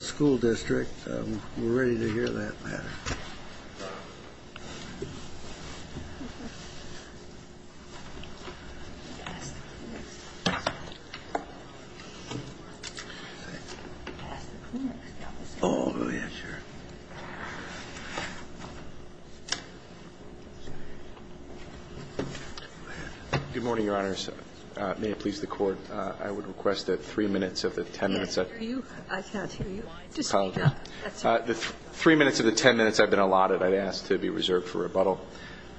School District. We're ready to hear that matter. Good morning, Your Honors. May it please the Court, I would request that three minutes of the ten minutes. I cannot hear you. Just speak up. Three minutes of the ten minutes have been allotted. I'd ask to be reserved for rebuttal.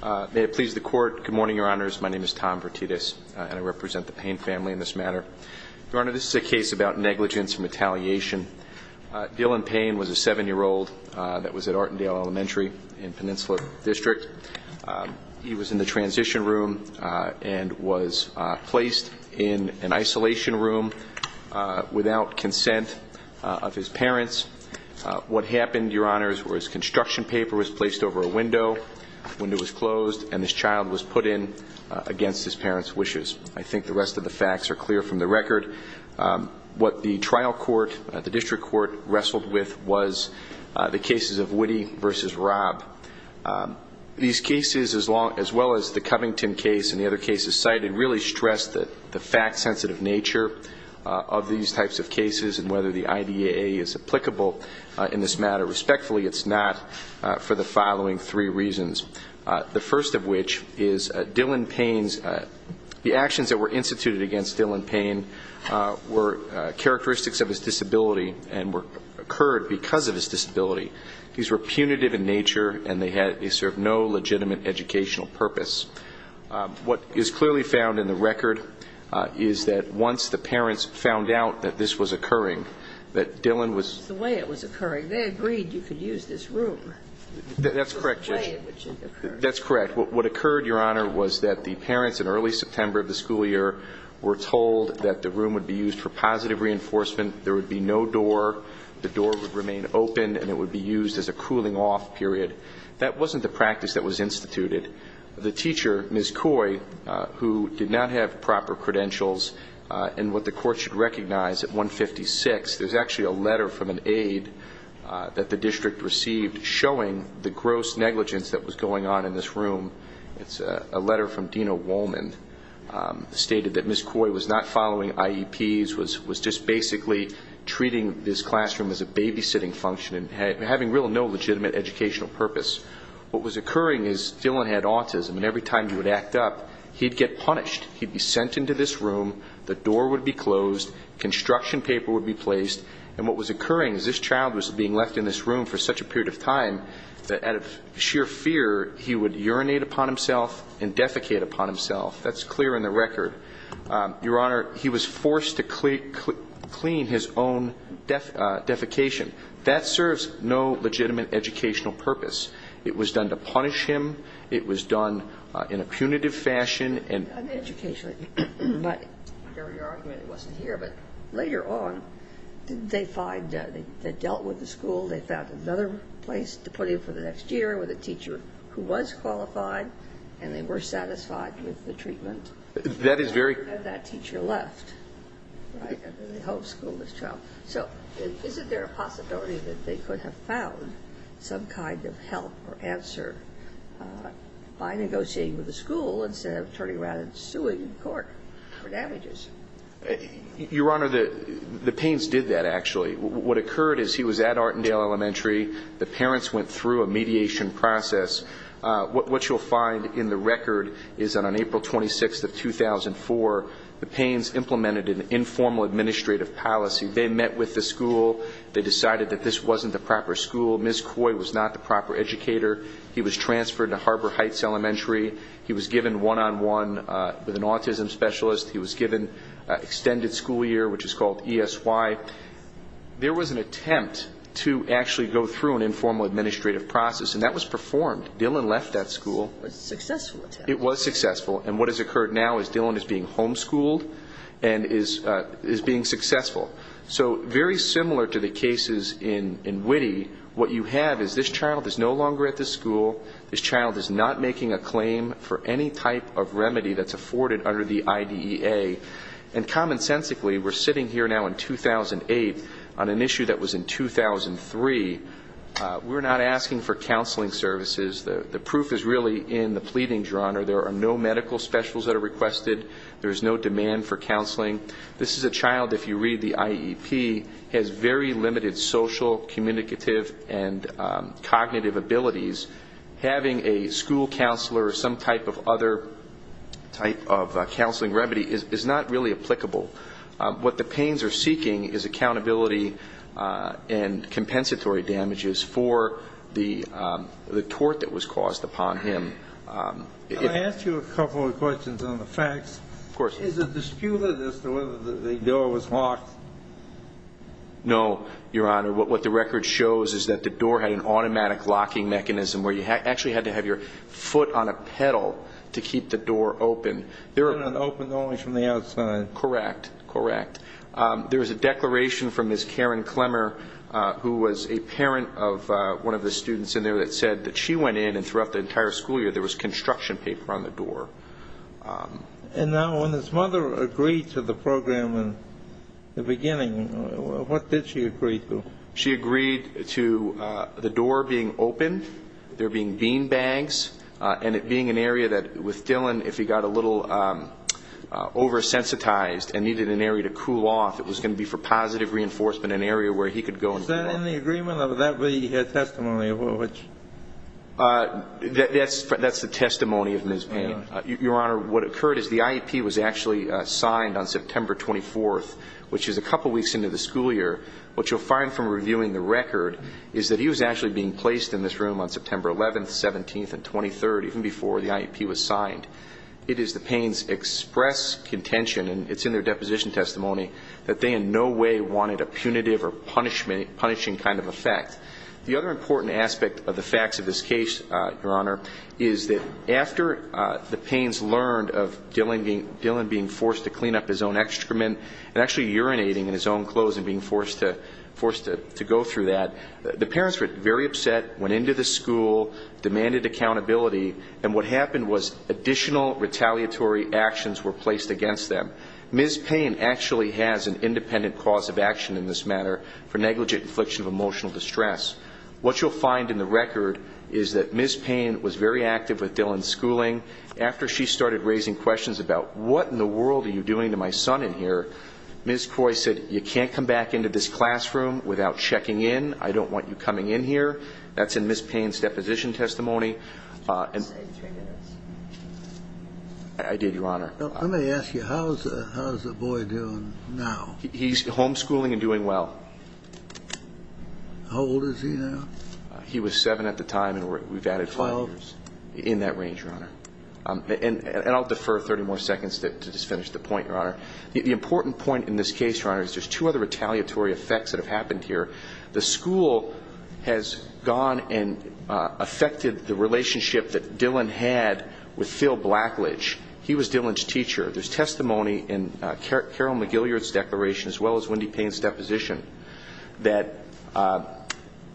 May it please the Court. Good morning, Your Honors. My name is Tom Vertides, and I represent the Payne family in this matter. Your Honor, this is a case about negligence and retaliation. Dylan Payne was a seven-year-old that was at Artindale Elementary in Peninsula District. He was in the transition room and was placed in an isolation room without consent of his parents. What happened, Your Honors, was construction paper was placed over a window. The window was closed, and this child was put in against his parents' wishes. I think the rest of the facts are clear from the record. What the trial court, the district court, wrestled with was the cases of Witte v. Robb. These cases, as well as the Covington case and the other cases cited, really stress the fact-sensitive nature of these types of cases and whether the IDAA is applicable in this matter. Respectfully, it's not for the following three reasons, the first of which is Dylan Payne's – the actions that were instituted against Dylan Payne were characteristics of his disability and occurred because of his disability. These were punitive in nature, and they serve no legitimate educational purpose. What is clearly found in the record is that once the parents found out that this was occurring, that Dylan was – It's the way it was occurring. They agreed you could use this room. That's correct, Judge. It's the way it occurred. That's correct. What occurred, Your Honor, was that the parents in early September of the school year were told that the room would be used for positive reinforcement, there would be no door, the door would remain open, and it would be used as a cooling-off period. That wasn't the practice that was instituted. The teacher, Ms. Coy, who did not have proper credentials, and what the court should recognize, at 156, there's actually a letter from an aide that the district received showing the gross negligence that was going on in this room. It's a letter from Dina Wollman, stated that Ms. Coy was not following IEPs, which was just basically treating this classroom as a babysitting function and having really no legitimate educational purpose. What was occurring is Dylan had autism, and every time he would act up, he'd get punished. He'd be sent into this room, the door would be closed, construction paper would be placed, and what was occurring is this child was being left in this room for such a period of time that out of sheer fear, he would urinate upon himself and defecate upon himself. That's clear in the record. Your Honor, he was forced to clean his own defecation. That serves no legitimate educational purpose. It was done to punish him. It was done in a punitive fashion. And education. But your argument wasn't here. But later on, didn't they find that they dealt with the school, they found another place to put him for the next year with a teacher who was qualified, and they were satisfied with the treatment? That is very clear. And that teacher left. Right? And they homeschooled this child. So isn't there a possibility that they could have found some kind of help or answer by negotiating with the school instead of turning around and suing the court for damages? Your Honor, the Paines did that, actually. What occurred is he was at Artendale Elementary. The parents went through a mediation process. What you'll find in the record is that on April 26th of 2004, the Paines implemented an informal administrative policy. They met with the school. They decided that this wasn't the proper school. Ms. Coy was not the proper educator. He was transferred to Harbor Heights Elementary. He was given one-on-one with an autism specialist. He was given extended school year, which is called ESY. There was an attempt to actually go through an informal administrative process, and that was performed. Dylan left that school. It was a successful attempt. It was successful. And what has occurred now is Dylan is being homeschooled and is being successful. So very similar to the cases in Witte, what you have is this child is no longer at this school. This child is not making a claim for any type of remedy that's afforded under the IDEA. And commonsensically, we're sitting here now in 2008 on an issue that was in 2003. We're not asking for counseling services. The proof is really in the pleadings, Your Honor. There are no medical specials that are requested. There is no demand for counseling. This is a child, if you read the IEP, has very limited social, communicative, and cognitive abilities. Having a school counselor or some type of other type of counseling remedy is not really applicable. What the Paynes are seeking is accountability and compensatory damages for the tort that was caused upon him. Can I ask you a couple of questions on the facts? Of course. Is it disputed as to whether the door was locked? No, Your Honor. What the record shows is that the door had an automatic locking mechanism where you actually had to have your foot on a pedal to keep the door open. So it was open only from the outside. Correct, correct. There was a declaration from Ms. Karen Klemmer, who was a parent of one of the students in there, that said that she went in and throughout the entire school year there was construction paper on the door. And now when his mother agreed to the program in the beginning, what did she agree to? She agreed to the door being open, there being beanbags, and it being an area that with Dylan, if he got a little oversensitized and needed an area to cool off, it was going to be for positive reinforcement, an area where he could go and cool off. Is that in the agreement of that testimony? That's the testimony of Ms. Payne. Your Honor, what occurred is the IEP was actually signed on September 24th, which is a couple weeks into the school year. What you'll find from reviewing the record is that he was actually being placed in this room on September 11th, 17th, and 23rd, even before the IEP was signed. It is the Paynes' express contention, and it's in their deposition testimony, that they in no way wanted a punitive or punishing kind of effect. The other important aspect of the facts of this case, Your Honor, is that after the Paynes learned of Dylan being forced to clean up his own excrement and actually urinating in his own clothes and being forced to go through that, the parents were very upset, went into the school, demanded accountability, and what happened was additional retaliatory actions were placed against them. Ms. Payne actually has an independent cause of action in this matter for negligent infliction of emotional distress. What you'll find in the record is that Ms. Payne was very active with Dylan's schooling. After she started raising questions about what in the world are you doing to my son in here, Ms. Croy said, you can't come back into this classroom without checking in. I don't want you coming in here. That's in Ms. Payne's deposition testimony. I did, Your Honor. Let me ask you, how is the boy doing now? He's homeschooling and doing well. How old is he now? He was seven at the time, and we've added four years. Twelve? In that range, Your Honor. And I'll defer 30 more seconds to just finish the point, Your Honor. The important point in this case, Your Honor, is there's two other retaliatory effects that have happened here. The school has gone and affected the relationship that Dylan had with Phil Blackledge. He was Dylan's teacher. There's testimony in Carol McGilliard's declaration as well as Wendy Payne's deposition that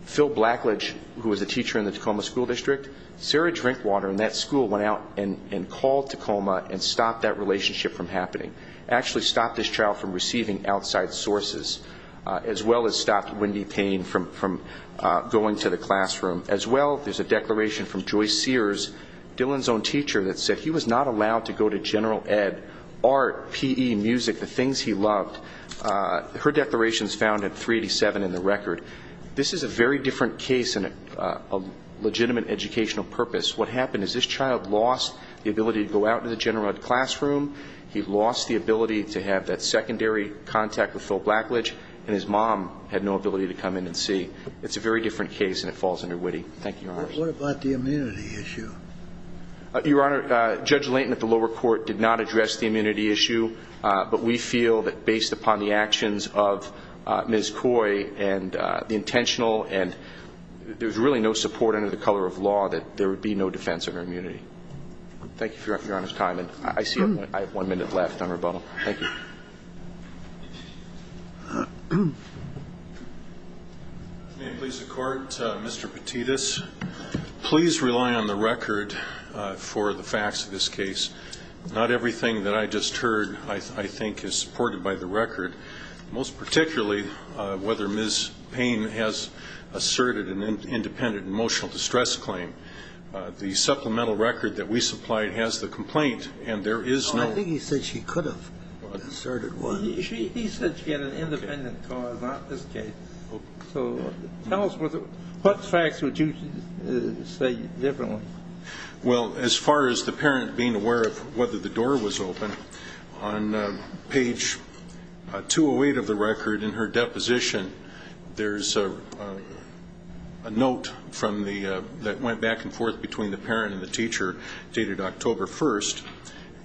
Phil Blackledge, who was a teacher in the Tacoma School District, Sarah Drinkwater, and that school went out and called Tacoma and stopped that relationship from happening, actually stopped this child from receiving outside sources, as well as stopped Wendy Payne from going to the classroom. As well, there's a declaration from Joyce Sears, Dylan's own teacher, that said he was not allowed to go to general ed, art, P.E., music, the things he loved. Her declaration is found at 387 in the record. This is a very different case and a legitimate educational purpose. What happened is this child lost the ability to go out to the general ed classroom. He lost the ability to have that secondary contact with Phil Blackledge, and his mom had no ability to come in and see. It's a very different case, and it falls under Witte. Thank you, Your Honor. What about the immunity issue? Your Honor, Judge Leighton at the lower court did not address the immunity issue, but we feel that based upon the actions of Ms. Coy and the intentional and there's really no support under the color of law that there would be no defense of her immunity. Thank you for your time. I see I have one minute left on rebuttal. Thank you. May it please the Court, Mr. Petitus, please rely on the record for the facts of this case. Not everything that I just heard I think is supported by the record, most particularly whether Ms. Payne has asserted an independent emotional distress claim. The supplemental record that we supplied has the complaint, and there is no ---- I think he said she could have asserted one. He said she had an independent cause, not this case. So tell us what facts would you say differently? Well, as far as the parent being aware of whether the door was open, on page 208 of the record in her deposition, there's a note that went back and forth between the parent and the teacher dated October 1st,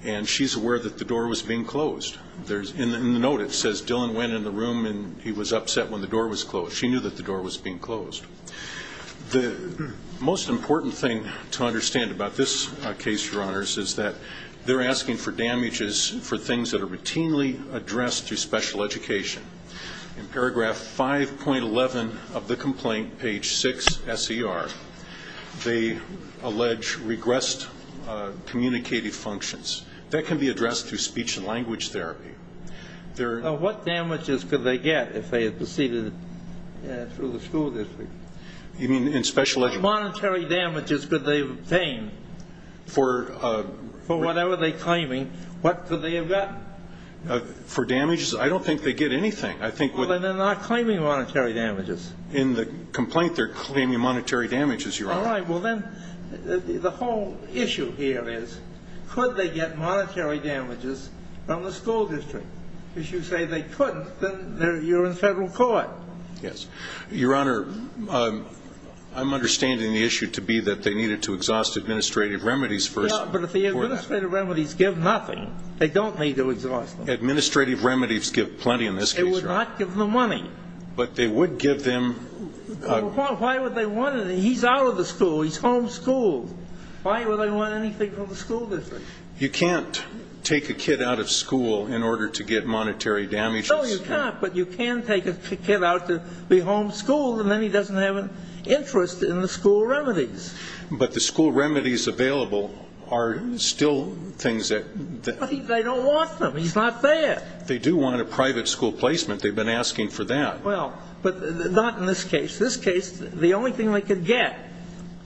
and she's aware that the door was being closed. In the note it says, Dylan went in the room and he was upset when the door was closed. She knew that the door was being closed. The most important thing to understand about this case, Your Honors, is that they're asking for damages for things that are routinely addressed through special education. In paragraph 5.11 of the complaint, page 6 S.E.R., they allege regressed communicative functions. That can be addressed through speech and language therapy. What damages could they get if they had proceeded through the school district? You mean in special education? What monetary damages could they obtain for whatever they're claiming? What could they have gotten? For damages? I don't think they get anything. Well, then they're not claiming monetary damages. In the complaint they're claiming monetary damages, Your Honor. All right, well, then the whole issue here is could they get monetary damages from the school district? If you say they couldn't, then you're in federal court. Yes. Your Honor, I'm understanding the issue to be that they needed to exhaust administrative remedies first. No, but if the administrative remedies give nothing, they don't need to exhaust them. Administrative remedies give plenty in this case, Your Honor. They would not give them money. But they would give them... He's out of the school. He's homeschooled. Why would they want anything from the school district? You can't take a kid out of school in order to get monetary damages. No, you can't, but you can take a kid out to be homeschooled, and then he doesn't have an interest in the school remedies. But the school remedies available are still things that... They don't want them. He's not there. They do want a private school placement. They've been asking for that. Well, but not in this case. This case, the only thing they could get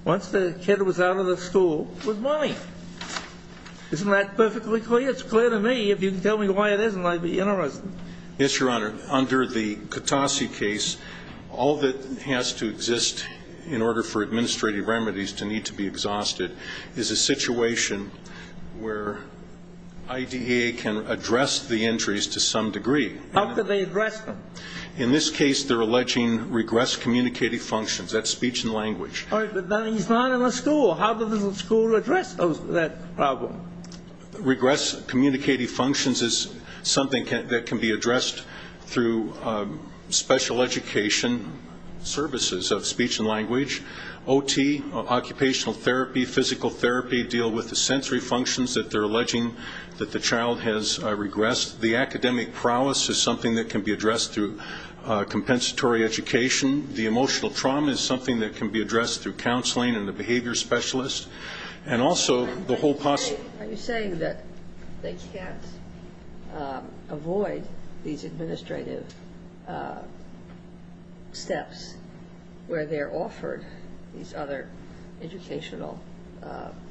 once the kid was out of the school was money. Isn't that perfectly clear? It's clear to me. If you could tell me why it isn't, I'd be interested. Yes, Your Honor. Under the Katase case, all that has to exist in order for administrative remedies to need to be exhausted is a situation where IDEA can address the injuries to some degree. How could they address them? In this case, they're alleging regressed communicative functions. That's speech and language. All right, but he's not in a school. How does the school address that problem? Regressed communicative functions is something that can be addressed through special education services of speech and language. OT, occupational therapy, physical therapy deal with the sensory functions that they're alleging that the child has regressed. The academic prowess is something that can be addressed through compensatory education. The emotional trauma is something that can be addressed through counseling and a behavior specialist, and also the whole possible Are you saying that they can't avoid these administrative steps where they're offered these other educational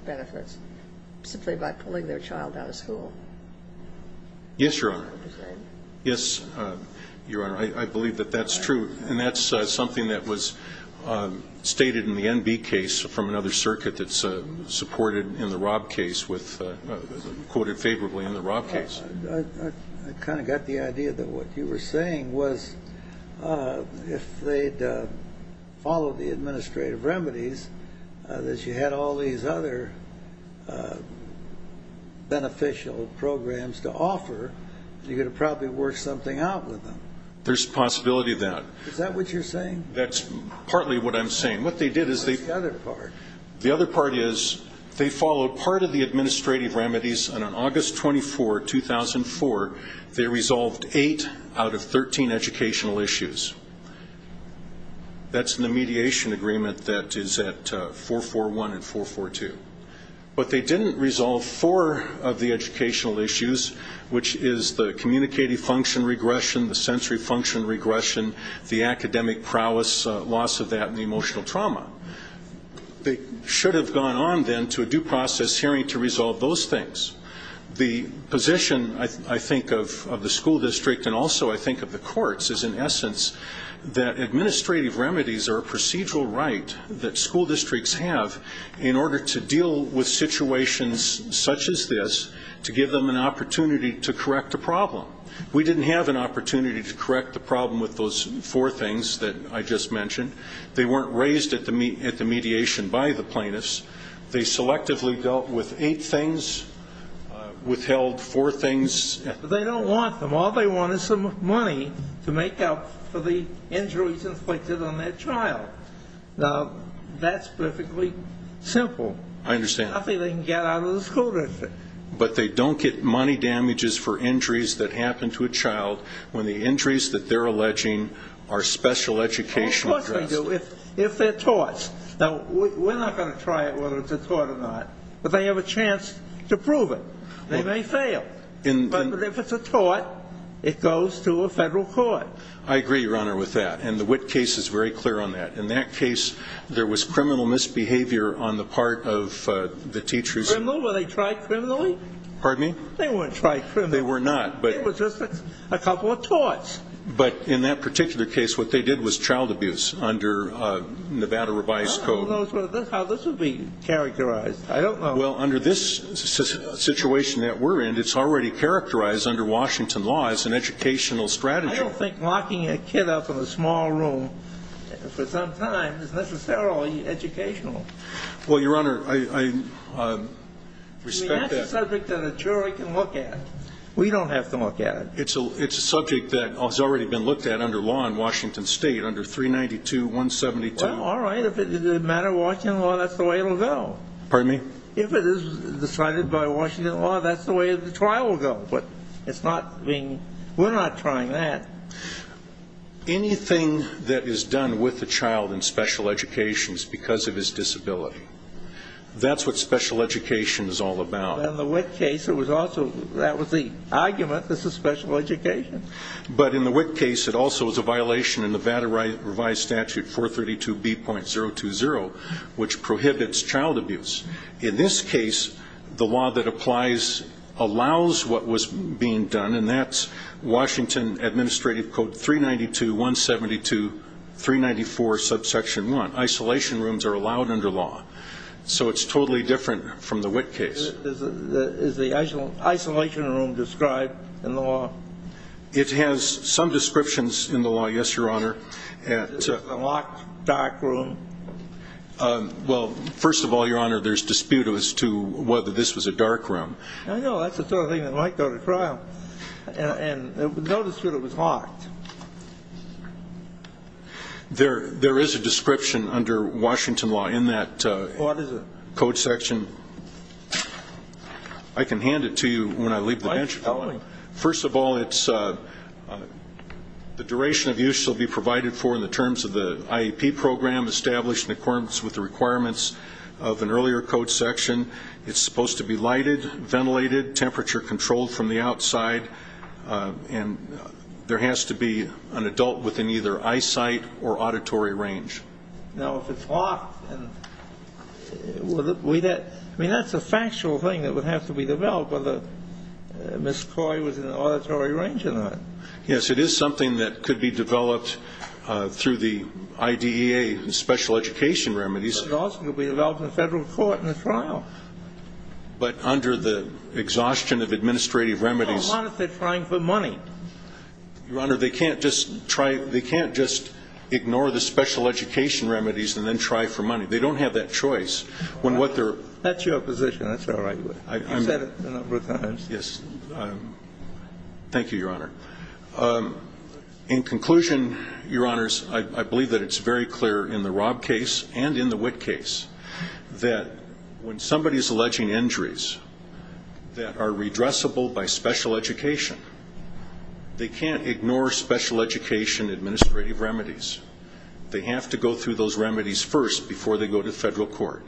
benefits simply by pulling their child out of school? Yes, Your Honor. Yes, Your Honor. I believe that that's true, and that's something that was stated in the NB case from another circuit that's supported in the Rob case, quoted favorably in the Rob case. I kind of got the idea that what you were saying was if they'd follow the administrative remedies, that you had all these other beneficial programs to offer, you could have probably worked something out with them. There's a possibility of that. Is that what you're saying? That's partly what I'm saying. What they did is they What's the other part? The other part is they followed part of the administrative remedies, and on August 24, 2004, they resolved eight out of 13 educational issues. That's in the mediation agreement that is at 441 and 442. But they didn't resolve four of the educational issues, which is the communicative function regression, the sensory function regression, the academic prowess loss of that, and the emotional trauma. They should have gone on then to a due process hearing to resolve those things. The position, I think, of the school district and also, I think, of the courts is, in essence, that administrative remedies are a procedural right that school districts have in order to deal with situations such as this to give them an opportunity to correct a problem. We didn't have an opportunity to correct the problem with those four things that I just mentioned. They weren't raised at the mediation by the plaintiffs. They selectively dealt with eight things, withheld four things. They don't want them. All they want is some money to make up for the injuries inflicted on their child. Now, that's perfectly simple. I understand. Nothing they can get out of the school district. But they don't get money damages for injuries that happen to a child when the injuries that they're alleging are special education addressed. Of course they do, if they're taught. Now, we're not going to try it, whether it's a tort or not. But they have a chance to prove it. They may fail. But if it's a tort, it goes to a federal court. I agree, Your Honor, with that. And the Witt case is very clear on that. In that case, there was criminal misbehavior on the part of the teachers. Criminal? Were they tried criminally? Pardon me? They weren't tried criminally. They were not. It was just a couple of torts. But in that particular case, what they did was child abuse under Nevada revised code. I don't know how this would be characterized. I don't know. Well, under this situation that we're in, it's already characterized under Washington law as an educational strategy. I don't think locking a kid up in a small room for some time is necessarily educational. Well, Your Honor, I respect that. I mean, that's a subject that a jury can look at. We don't have to look at it. It's a subject that has already been looked at under law in Washington State under 392.172. Well, all right. If it's a matter of Washington law, that's the way it will go. Pardon me? If it is decided by Washington law, that's the way the trial will go. But it's not being we're not trying that. Anything that is done with a child in special education is because of his disability. That's what special education is all about. That was the argument. This is special education. But in the WIC case, it also is a violation in Nevada Revised Statute 432B.020, which prohibits child abuse. In this case, the law that applies allows what was being done, and that's Washington Administrative Code 392.172.394, subsection 1. Isolation rooms are allowed under law. So it's totally different from the WIC case. Is the isolation room described in the law? It has some descriptions in the law, yes, Your Honor. Is it a locked, dark room? Well, first of all, Your Honor, there's dispute as to whether this was a dark room. I know. That's the sort of thing that might go to trial. And no dispute it was locked. There is a description under Washington law in that code section. I can hand it to you when I leave the bench. First of all, the duration of use shall be provided for in the terms of the IEP program established in accordance with the requirements of an earlier code section. It's supposed to be lighted, ventilated, temperature controlled from the outside, and there has to be an adult within either eyesight or auditory range. Now, if it's locked, I mean, that's a factual thing that would have to be developed, whether Ms. Coy was in the auditory range or not. Yes, it is something that could be developed through the IDEA special education remedies. But it also could be developed in a federal court in a trial. But under the exhaustion of administrative remedies. But what if they're trying for money? Your Honor, they can't just ignore the special education remedies and then try for money. They don't have that choice. That's your position. That's all right. You've said it a number of times. Yes. Thank you, Your Honor. In conclusion, Your Honors, I believe that it's very clear in the Rob case and in the Witt case that when somebody is alleging injuries that are redressable by special education, they can't ignore special education administrative remedies. They have to go through those remedies first before they go to federal court.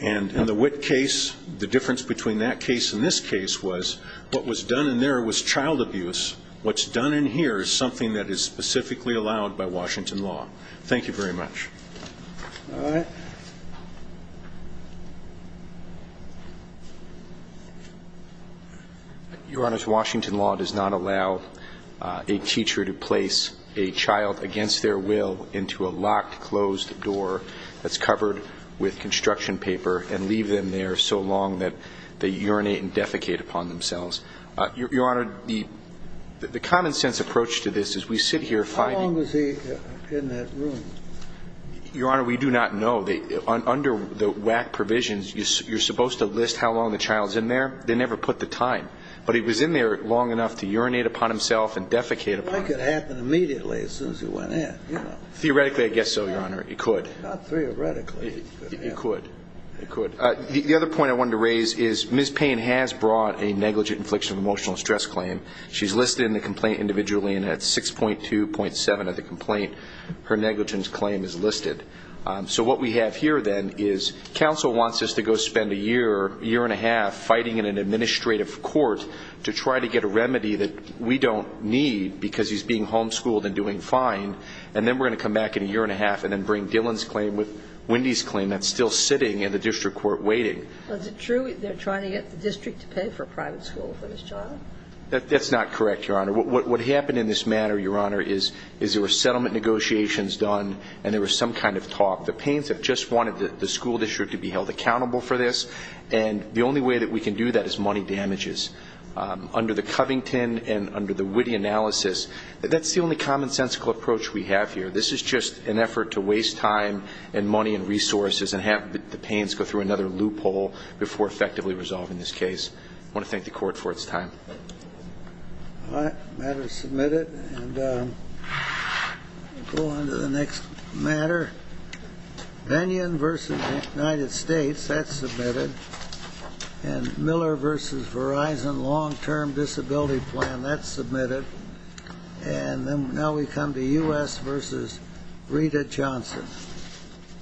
And in the Witt case, the difference between that case and this case was what was done in there was child abuse. What's done in here is something that is specifically allowed by Washington law. Thank you very much. All right. Your Honors, Washington law does not allow a teacher to place a child against their will into a locked, closed door that's covered with construction paper and leave them there so long that they urinate and defecate upon themselves. Your Honor, the common sense approach to this is we sit here fighting. How long was he in that room? Your Honor, we do not know. Under the WAC provisions, you're supposed to list how long the child's in there. They never put the time. But he was in there long enough to urinate upon himself and defecate upon him. That could happen immediately as soon as he went in. Theoretically, I guess so, Your Honor. It could. Not theoretically. It could. It could. The other point I wanted to raise is Ms. Payne has brought a negligent infliction of emotional stress claim. She's listed in the complaint individually, and at 6.2.7 of the complaint, her negligence claim is listed. So what we have here then is counsel wants us to go spend a year, year and a half, fighting in an administrative court to try to get a remedy that we don't need because he's being homeschooled and doing fine, and then we're going to come back in a year and a half and then bring Dylan's claim with Wendy's claim that's still sitting in the district court waiting. Is it true they're trying to get the district to pay for private school for this child? That's not correct, Your Honor. What happened in this matter, Your Honor, is there were settlement negotiations done and there was some kind of talk. The Paynes have just wanted the school district to be held accountable for this, and the only way that we can do that is money damages. Under the Covington and under the Witte analysis, that's the only commonsensical approach we have here. This is just an effort to waste time and money and resources and have the Paynes go through another loophole before effectively resolving this case. I want to thank the court for its time. All right. The matter is submitted. We'll go on to the next matter. Bennion v. United States, that's submitted. And Miller v. Verizon Long-Term Disability Plan, that's submitted. And now we come to U.S. v. Rita Johnson.